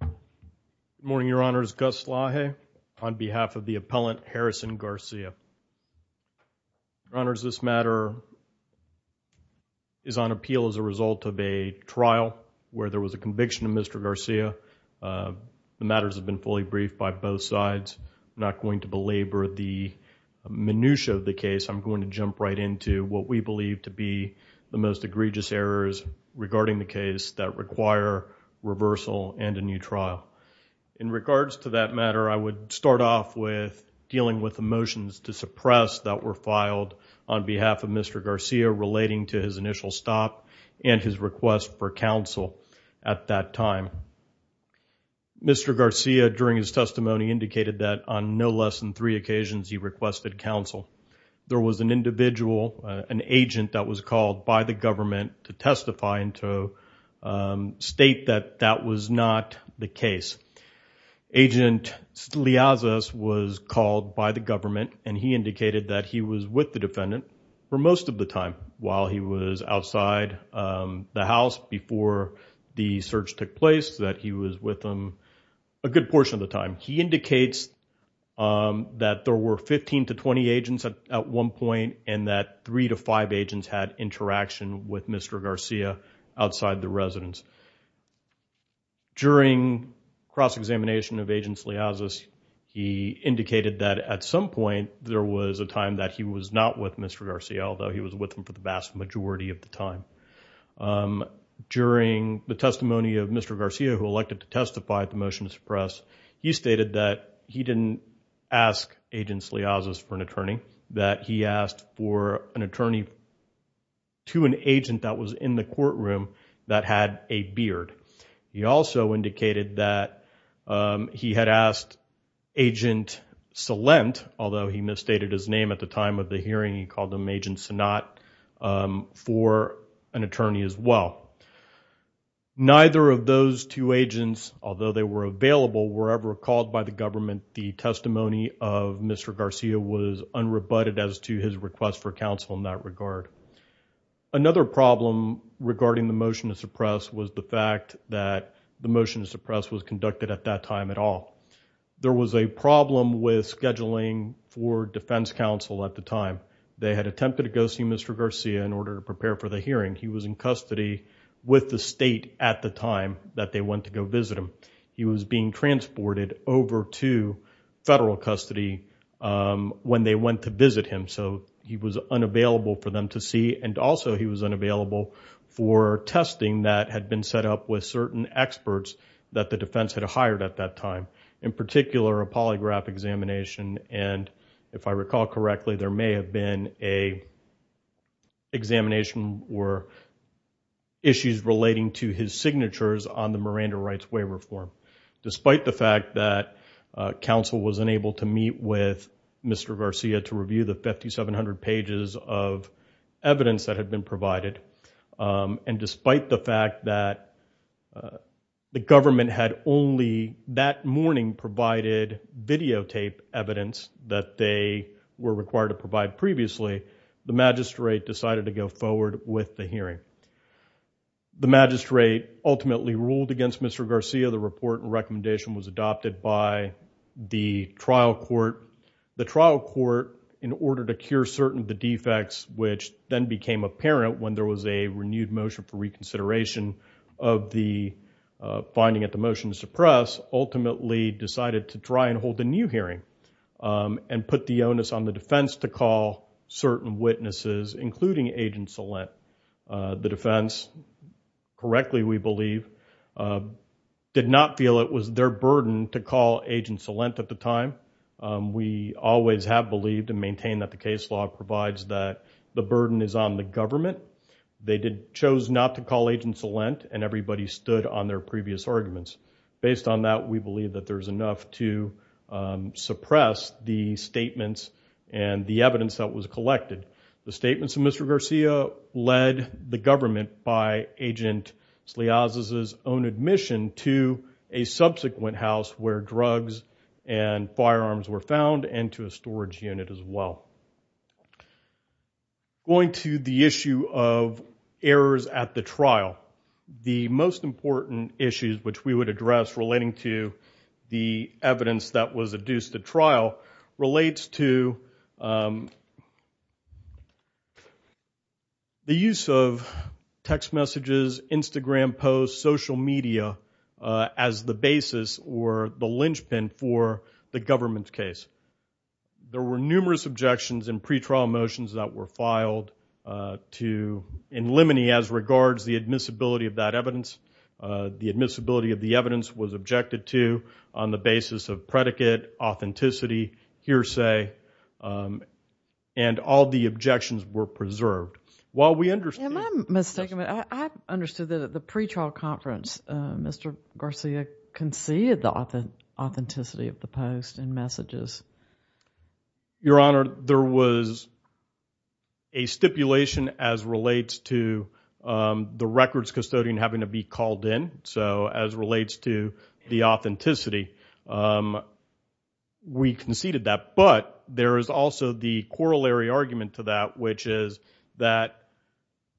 Good morning, Your Honors. Gus Laje on behalf of the appellant Harrison Garcia. Your Honors, this matter is on appeal as a result of a trial where there was a conviction of Mr. Garcia. The matters have been fully briefed by both sides. I'm not going to belabor the minutia of the case. I'm going to jump right into what we believe to be the most egregious errors regarding the case that require reversal and a new trial. In regards to that matter, I would start off with dealing with the motions to suppress that were filed on behalf of Mr. Garcia relating to his initial stop and his request for counsel at that time. Mr. Garcia during his testimony indicated that on no less than three occasions he requested counsel. There was an individual, an agent that was called by the government to testify and to state that that was not the case. Agent Steliazis was called by the government and he indicated that he was with the defendant for most of the time while he was outside the house before the search took place, that he was with them a good portion of the time. He indicates that there were 15 to 20 agents at one point and that three to five agents had interaction with Mr. Garcia outside the residence. During cross-examination of Agent Steliazis, he indicated that at some point there was a time that he was not with Mr. Garcia although he was with them for the vast majority of the time. During the testimony of Mr. Garcia who elected to attorney that he asked for an attorney to an agent that was in the courtroom that had a beard. He also indicated that he had asked Agent Salent, although he misstated his name at the time of the hearing, he called him Agent Sanat, for an attorney as well. Neither of those two agents, although they were available, were ever called by the government. The testimony of Mr. Garcia was unrebutted as to his request for counsel in that regard. Another problem regarding the motion to suppress was the fact that the motion to suppress was conducted at that time at all. There was a problem with scheduling for defense counsel at the time. They had attempted to go see Mr. Garcia in order to prepare for the hearing. He was in custody with the state at the time that they went to go visit him. He was being transported over to federal custody when they went to visit him. He was unavailable for them to see and also he was unavailable for testing that had been set up with certain experts that the defense had hired at that time. In particular, a polygraph examination. If I recall correctly, there may have been an examination or issues relating to his signatures on the record. The magistrate decided to go forward with the hearing. The magistrate ultimately ruled against Mr. Garcia. The report and recommendation was adopted by the trial court. The trial court, in order to cure certain of the defects, which then became apparent when there was a renewed motion for reconsideration of the finding at the motion to suppress, ultimately decided to try and hold a new hearing and put the onus on the defense to call certain witnesses, including Agent Celent. The defense, correctly we believe, did not feel it was their burden to call Agent Celent at the time. We always have believed and maintain that the case law provides that the burden is on the government. They chose not to call Agent Celent and everybody stood on their previous arguments. Based on that, we believe that there is enough to suppress the statements and the evidence that was collected. The statements of Mr. Garcia led the government by Agent Sleazza's own admission to a subsequent house where drugs and firearms were found and to a storage unit as well. Going to the issue of errors at the trial, the most important issues which we would address relating to the evidence that was adduced at trial relates to the use of text messages, Instagram posts, social media as the basis or the linchpin for the government's case. There were numerous objections and pre-trial motions that were filed in limine as regards the admissibility of that evidence. The admissibility of the evidence was objected to on the basis of predicate, authenticity, hearsay, and all the objections were preserved. While we understand- Am I mistaken? I understood that at the pre-trial conference, Mr. Garcia conceded the authenticity of the post and messages. Your Honor, there was a stipulation as relates to the records custodian having to be called in, so as relates to the authenticity. We conceded that, but there is also the corollary argument to that, which is that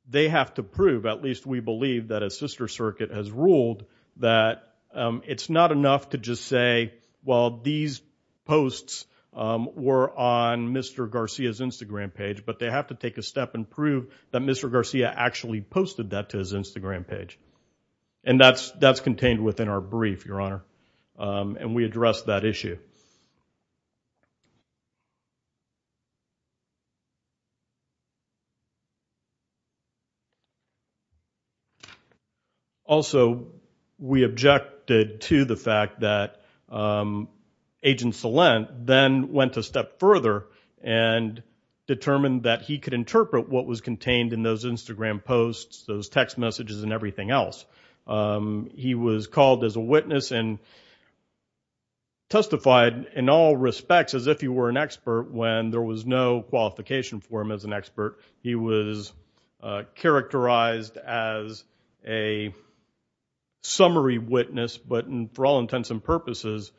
they have to prove, at least we believe that a sister circuit has ruled, that it's not enough to just say, well, these posts were on Mr. Garcia's Instagram page, but they have to take a step and prove that Mr. Garcia actually posted that to his Instagram page. And that's contained within our brief, Your Honor, and we address that issue. Also, we objected to the fact that Agent Salent then went a step further and determined that he could interpret what was contained in those Instagram posts, those text messages, and everything else. He was called as a witness and testified in all respects as if he were an expert when there was no qualification for him as an expert. He was characterized as a summary witness, but for all intents and purposes,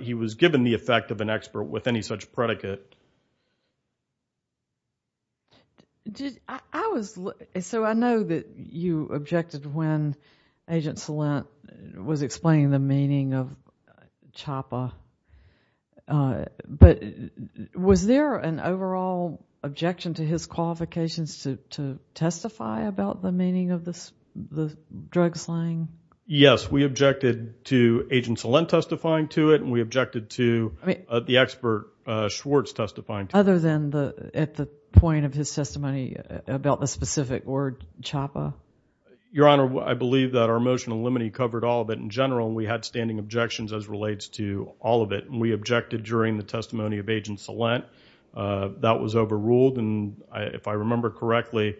he was given the effect of an expert with any such predicate. So I know that you objected when Agent Salent was explaining the meaning of CHOPPA, but was there an overall objection to his qualifications to testify about the meaning of the drug slaying? Yes, we objected to Agent Salent testifying to it, and we objected to the expert Schwartz testifying to it. Other than at the point of his testimony about the specific word CHOPPA? Your Honor, I believe that our motion in limine covered all of it in general, and we had standing objections as relates to all of it. We objected during the testimony of Agent Salent. That was overruled, and if I remember correctly,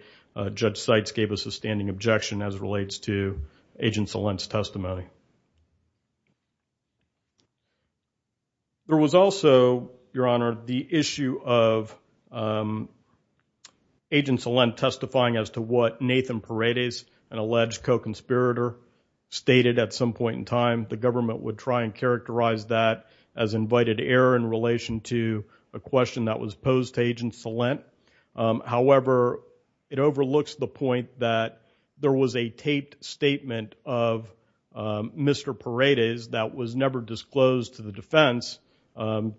Judge Seitz gave us a standing objection as relates to Agent Salent's testimony. There was also, Your Honor, the issue of Agent Salent testifying as to what Nathan Paredes, an alleged co-conspirator, stated at some point in time. The government would try and characterize that as invited error in relation to a question that was posed to Agent Salent. However, it overlooks the point that there was a taped statement of Mr. Paredes that was never disclosed to the defense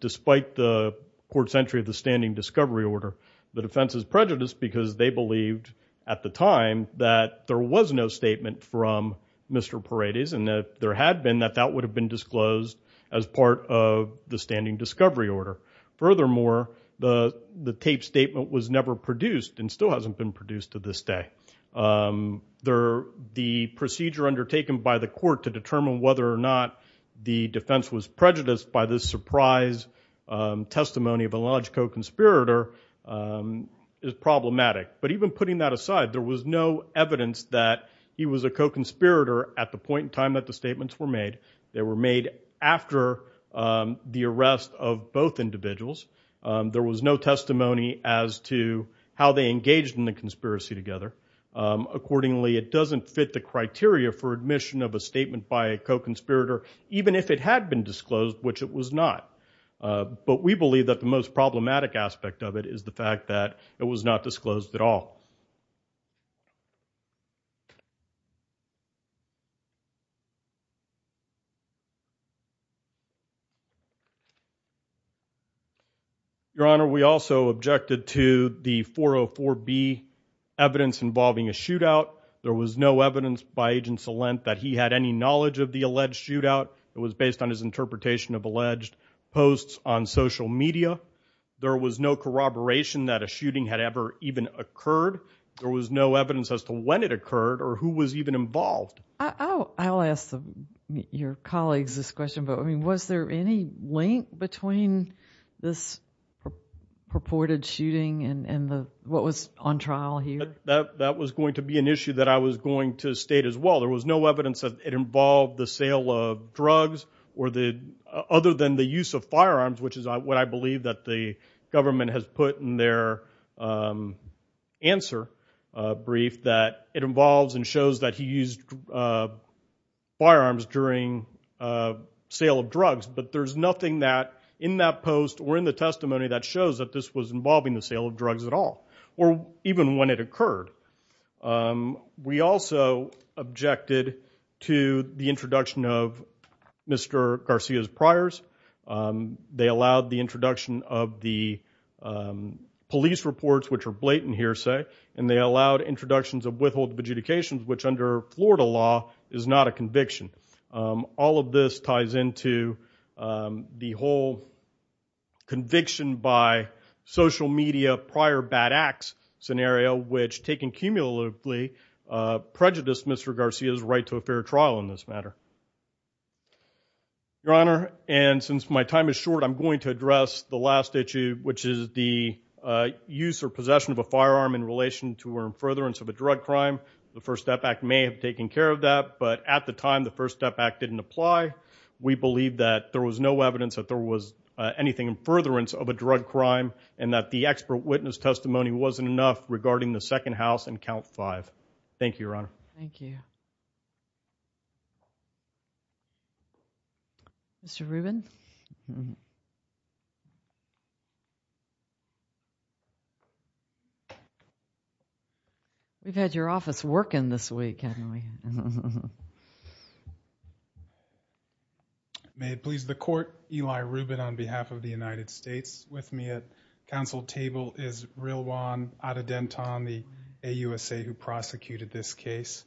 despite the court's entry of the standing discovery order. The defense is prejudiced because they believed at the time that there was no statement from Mr. Paredes and that there had been, that that would have been disclosed as part of the standing discovery order. Furthermore, the taped statement was never produced and still hasn't been produced to this day. The procedure undertaken by the court to determine whether or not the defense was prejudiced by this surprise testimony of an alleged co-conspirator is problematic. But even putting that aside, there was no evidence that he was a co-conspirator at the point in time that the statements were made. They were made after the arrest of both individuals. There was no testimony as to how they engaged in the conspiracy together. Accordingly, it doesn't fit the criteria for admission of a statement by a co-conspirator, even if it had been disclosed, which it was not. But we believe that the most problematic aspect of it is the fact that it was not disclosed at all. Your Honor, we also objected to the 404B evidence involving a shootout. There was no evidence by Agent Salent that he had any knowledge of the alleged shootout. It was based on his interpretation of alleged posts on social media. There was no corroboration that a shooting had ever even occurred. There was no evidence as to when it occurred or who was even involved. I'll ask your colleagues this question, but was there any link between this purported shooting and what was on trial here? That was going to be an issue that I was going to state as well. There was no evidence that it involved the sale of drugs other than the use of firearms, which is what I believe that the government has put in their answer brief, that it involves and shows that he used firearms during sale of drugs. But there's nothing in that post or in the testimony that shows that this was involving the sale of drugs at all, or even when it occurred. We also objected to the introduction of Mr. Garcia's priors. They allowed the introduction of the police reports, which are blatant hearsay, and they allowed introductions of withholding adjudications, which under Florida law is not a conviction. All of this ties into the whole conviction by social media prior bad acts scenario, which taken cumulatively prejudiced Mr. Garcia's right to a fair trial in this matter. Your Honor, and since my time is short, I'm going to address the last issue, which is the use or possession of a firearm in relation to or in furtherance of a drug crime. The First Step Act may have taken care of that, but at the time the First Step Act didn't apply. We believe that there was no evidence that there was anything in furtherance of a drug crime and that the expert witness testimony wasn't enough regarding the second house and count five. Thank you, Your Honor. Thank you. Mr. Rubin? We've had your office working this week, haven't we? May it please the Court, Eli Rubin on behalf of the United States. With me at council table is Rilwan Adedantan, the AUSA who prosecuted this case.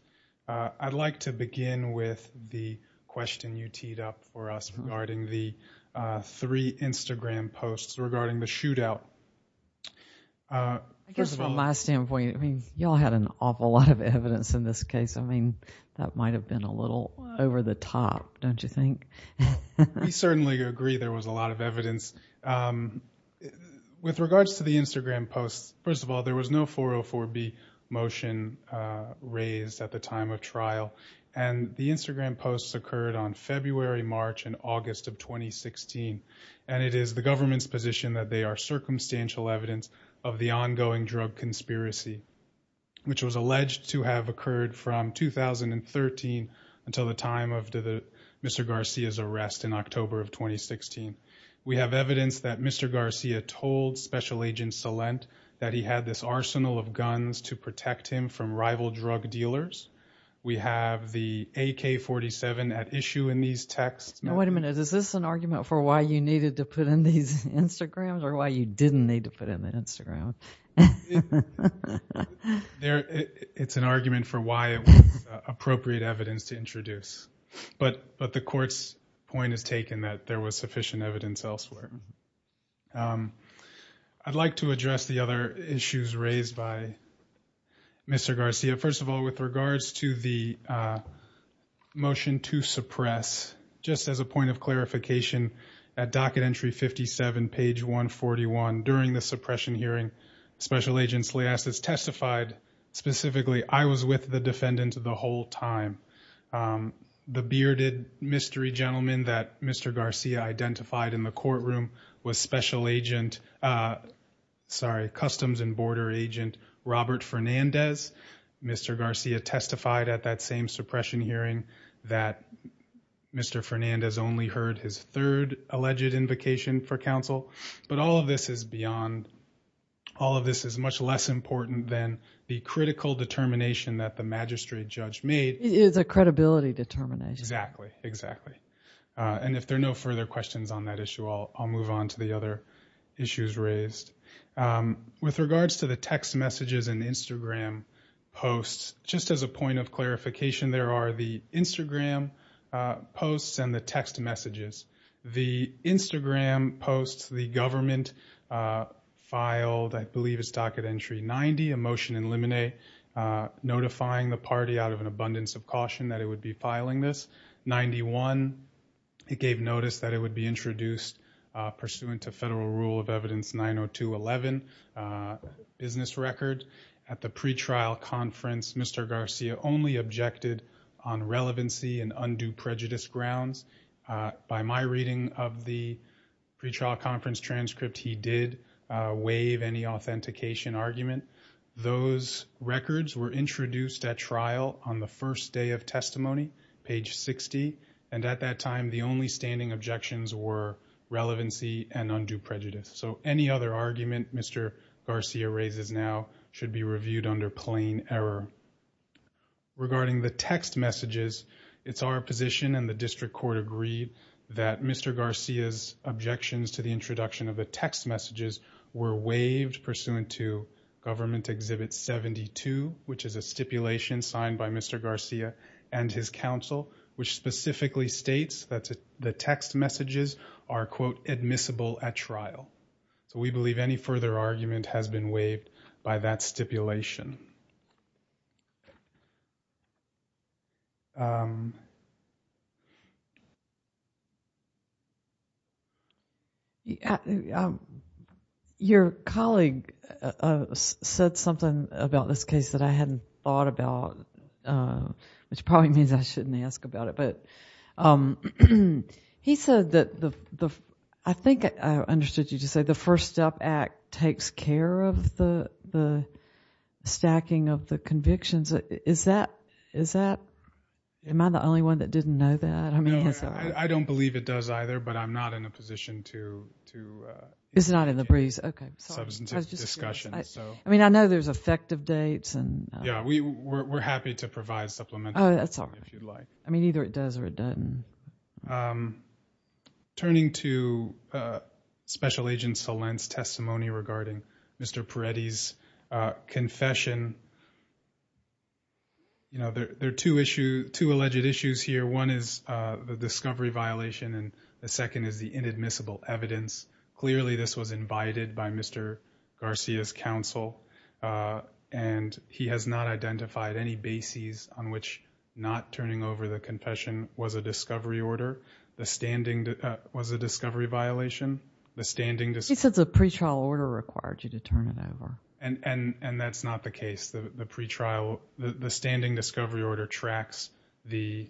I'd like to begin with the question you teed up for us regarding the three Instagram posts regarding the shootout. I guess from my standpoint, I mean, you all had an awful lot of evidence in this case. I mean, that might have been a little over the top, don't you think? We certainly agree there was a lot of evidence. With regards to the Instagram posts, first of all, there was no 404B motion raised at the time of trial. And the Instagram posts occurred on February, March, and August of 2016. And it is the government's position that they are circumstantial evidence of the ongoing drug conspiracy, which was alleged to have occurred from 2013 until the time of Mr. Garcia's arrest in October of 2016. We have evidence that Mr. Garcia told Special Agent Salent that he had this arsenal of guns to protect him from rival drug dealers. We have the AK-47 at issue in these texts. Now, wait a minute. Is this an argument for why you needed to put in these Instagrams or why you didn't need to put in the Instagram? It's an argument for why it was appropriate evidence to introduce. But the court's point is taken that there was sufficient evidence elsewhere. I'd like to address the other issues raised by Mr. Garcia. First of all, with regards to the motion to suppress, just as a point of clarification, at docket entry 57, page 141, during the suppression hearing, Special Agent Salient testified specifically, I was with the defendant the whole time. The bearded mystery gentleman that Mr. Garcia identified in the courtroom was Customs and Border Agent Robert Fernandez. Mr. Garcia testified at that same suppression hearing that Mr. Fernandez only heard his third alleged invocation for counsel. But all of this is beyond, all of this is much less important than the critical determination that the magistrate judge made. It is a credibility determination. Exactly, exactly. And if there are no further questions on that issue, I'll move on to the other issues raised. With regards to the text messages and Instagram posts, just as a point of clarification, there are the Instagram posts and the text messages. The Instagram posts, the government filed, I believe it's docket entry 90, a motion in limine, notifying the party out of an abundance of caution that it would be filing this. 91, it gave notice that it would be introduced pursuant to federal rule of evidence 90211, business record. At the pretrial conference, Mr. Garcia only objected on relevancy and undue prejudice grounds. By my reading of the pretrial conference transcript, he did waive any authentication argument. Those records were introduced at trial on the first day of testimony, page 60. And at that time, the only standing objections were relevancy and undue prejudice. So any other argument Mr. Garcia raises now should be reviewed under plain error. Regarding the text messages, it's our position and the district court agreed that Mr. Garcia's objections to the introduction of the text messages were waived pursuant to government exhibit 72, which is a stipulation signed by Mr. Garcia and his counsel, which specifically states that the text messages are, quote, admissible at trial. So we believe any further argument has been waived by that stipulation. Your colleague said something about this case that I hadn't thought about, which probably means I shouldn't ask about it. He said that, I think I understood you to say, the First Step Act takes care of the stacking of the convictions. Is that, am I the only one that didn't know that? I don't believe it does either, but I'm not in a position to. It's not in the briefs, okay. I mean, I know there's effective dates. Yeah, we're happy to provide supplementary if you'd like. I mean, either it does or it doesn't. Turning to Special Agent Salen's testimony regarding Mr. Peretti's confession, you know, there are two alleged issues here. One is the discovery violation and the second is the inadmissible evidence. Clearly, this was invited by Mr. Garcia's counsel, and he has not identified any bases on which not turning over the confession was a discovery order, was a discovery violation. He said the pretrial order required you to turn it over. And that's not the case. The standing discovery order tracks the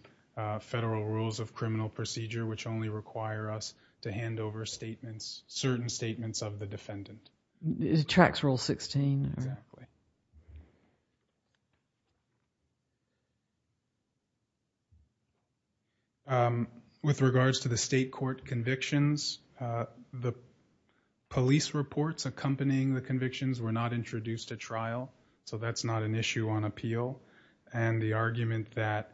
federal rules of criminal procedure, which only require us to hand over statements, certain statements of the defendant. It tracks Rule 16. Exactly. With regards to the state court convictions, the police reports accompanying the convictions were not introduced at trial, so that's not an issue on appeal. And the argument that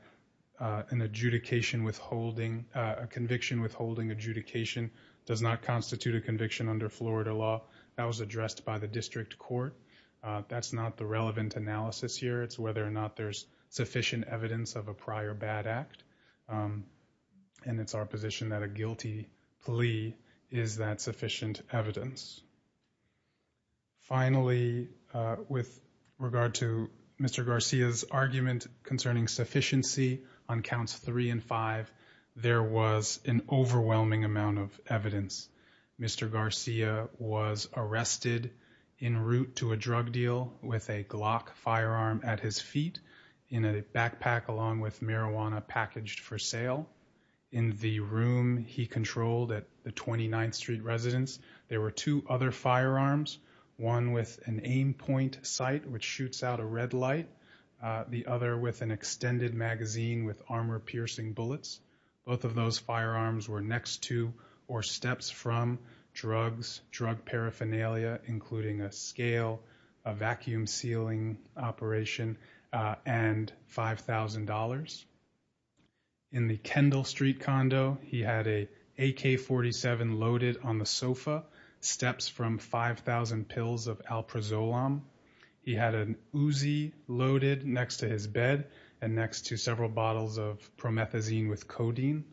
an adjudication withholding, a conviction withholding adjudication does not constitute a conviction under Florida law, that was addressed by the district court. That's not the relevant analysis here. It's whether or not there's sufficient evidence of a prior bad act, and it's our position that a guilty plea is that sufficient evidence. Finally, with regard to Mr. Garcia's argument concerning sufficiency on counts three and five, there was an overwhelming amount of evidence. Mr. Garcia was arrested en route to a drug deal with a Glock firearm at his feet, in a backpack along with marijuana packaged for sale. In the room he controlled at the 29th Street residence, there were two other firearms, one with an aim point sight, which shoots out a red light, the other with an extended magazine with armor-piercing bullets. Both of those firearms were next to or steps from drugs, drug paraphernalia, including a scale, a vacuum sealing operation, and $5,000. In the Kendall Street condo, he had an AK-47 loaded on the sofa, steps from 5,000 pills of alprazolam. He had an Uzi loaded next to his bed and next to several bottles of promethazine with codeine.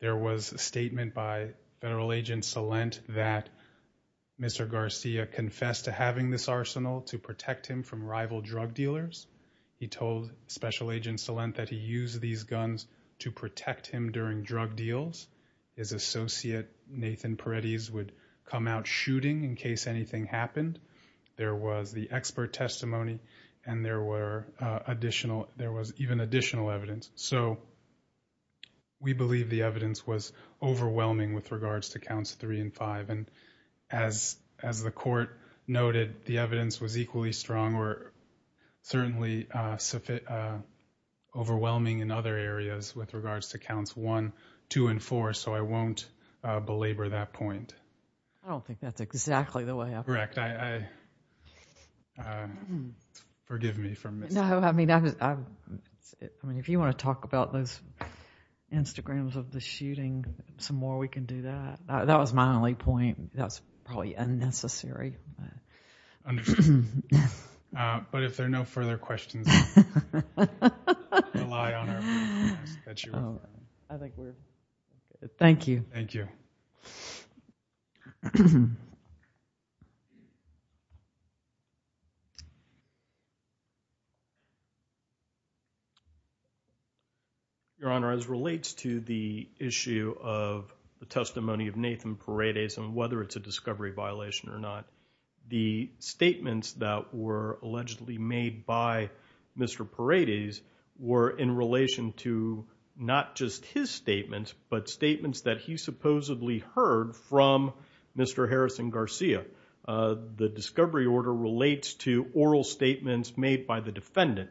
There was a statement by federal agent Salent that Mr. Garcia confessed to having this arsenal to protect him from rival drug dealers. He told special agent Salent that he used these guns to protect him during drug deals. His associate, Nathan Paredes, would come out shooting in case anything happened. There was the expert testimony, and there was even additional evidence. So we believe the evidence was overwhelming with regards to counts three and five. And as the court noted, the evidence was equally strong or certainly overwhelming in other areas with regards to counts one, two, and four. So I won't belabor that point. I don't think that's exactly the way up. Correct. Forgive me for missing it. No, I mean, if you want to talk about those Instagrams of the shooting some more, we can do that. That was my only point. That's probably unnecessary. But if there are no further questions, rely on our podcast. I think we're good. Thank you. Thank you. Your Honor, as relates to the issue of the testimony of Nathan Paredes and whether it's a discovery violation or not, the statements that were allegedly made by Mr. Paredes were in relation to not just his statements, but statements that he supposedly heard from Mr. Harrison Garcia. The discovery order relates to oral statements made by the defendant.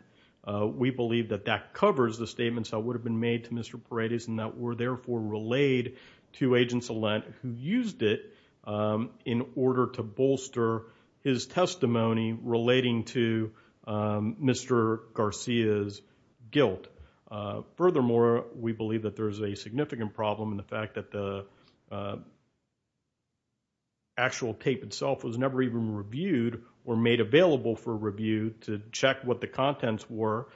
We believe that that covers the statements that would have been made to Mr. Paredes and that were therefore relayed to Agents Allant, who used it in order to bolster his testimony relating to Mr. Garcia's guilt. Furthermore, we believe that there is a significant problem in the fact that the actual tape itself was never even reviewed or made available for review to check what the contents were,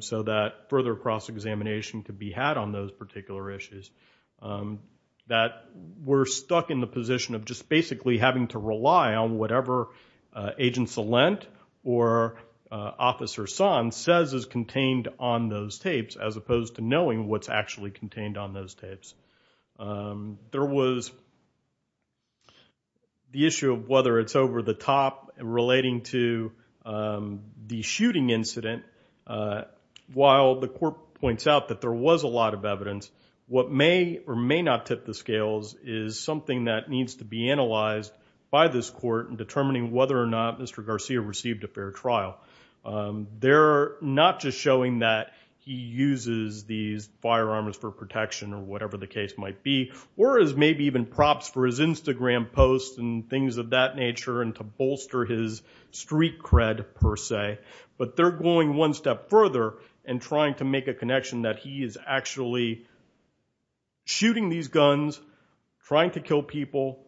so that further cross-examination could be had on those particular issues. We're stuck in the position of just basically having to rely on whatever Agents Allant or Officer Son says is contained on those tapes as opposed to knowing what's actually contained on those tapes. There was the issue of whether it's over the top relating to the shooting incident. While the court points out that there was a lot of evidence, what may or may not tip the scales is something that needs to be analyzed by this court in determining whether or not Mr. Garcia received a fair trial. They're not just showing that he uses these firearms for protection or whatever the case might be, or as maybe even props for his Instagram posts and things of that nature and to bolster his street cred per se, but they're going one step further and trying to make a connection that he is actually shooting these guns, trying to kill people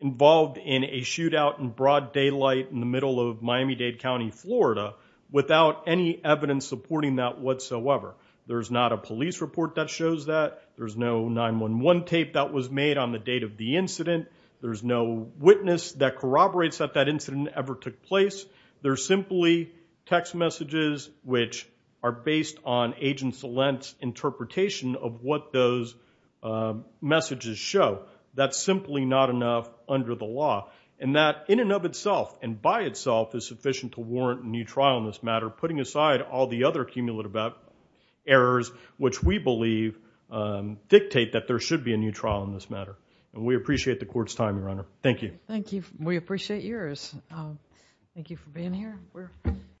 involved in a shootout in broad daylight in the middle of Miami-Dade County, Florida, without any evidence supporting that whatsoever. There's not a police report that shows that. There's no 911 tape that was made on the date of the incident. There's no witness that corroborates that that incident ever took place. There's simply text messages which are based on Agent Salent's interpretation of what those messages show. That's simply not enough under the law. And that in and of itself and by itself is sufficient to warrant a new trial in this matter, putting aside all the other cumulative errors which we believe dictate that there should be a new trial in this matter. And we appreciate the court's time, Your Honor. Thank you. Thank you. We appreciate yours. Thank you for being here.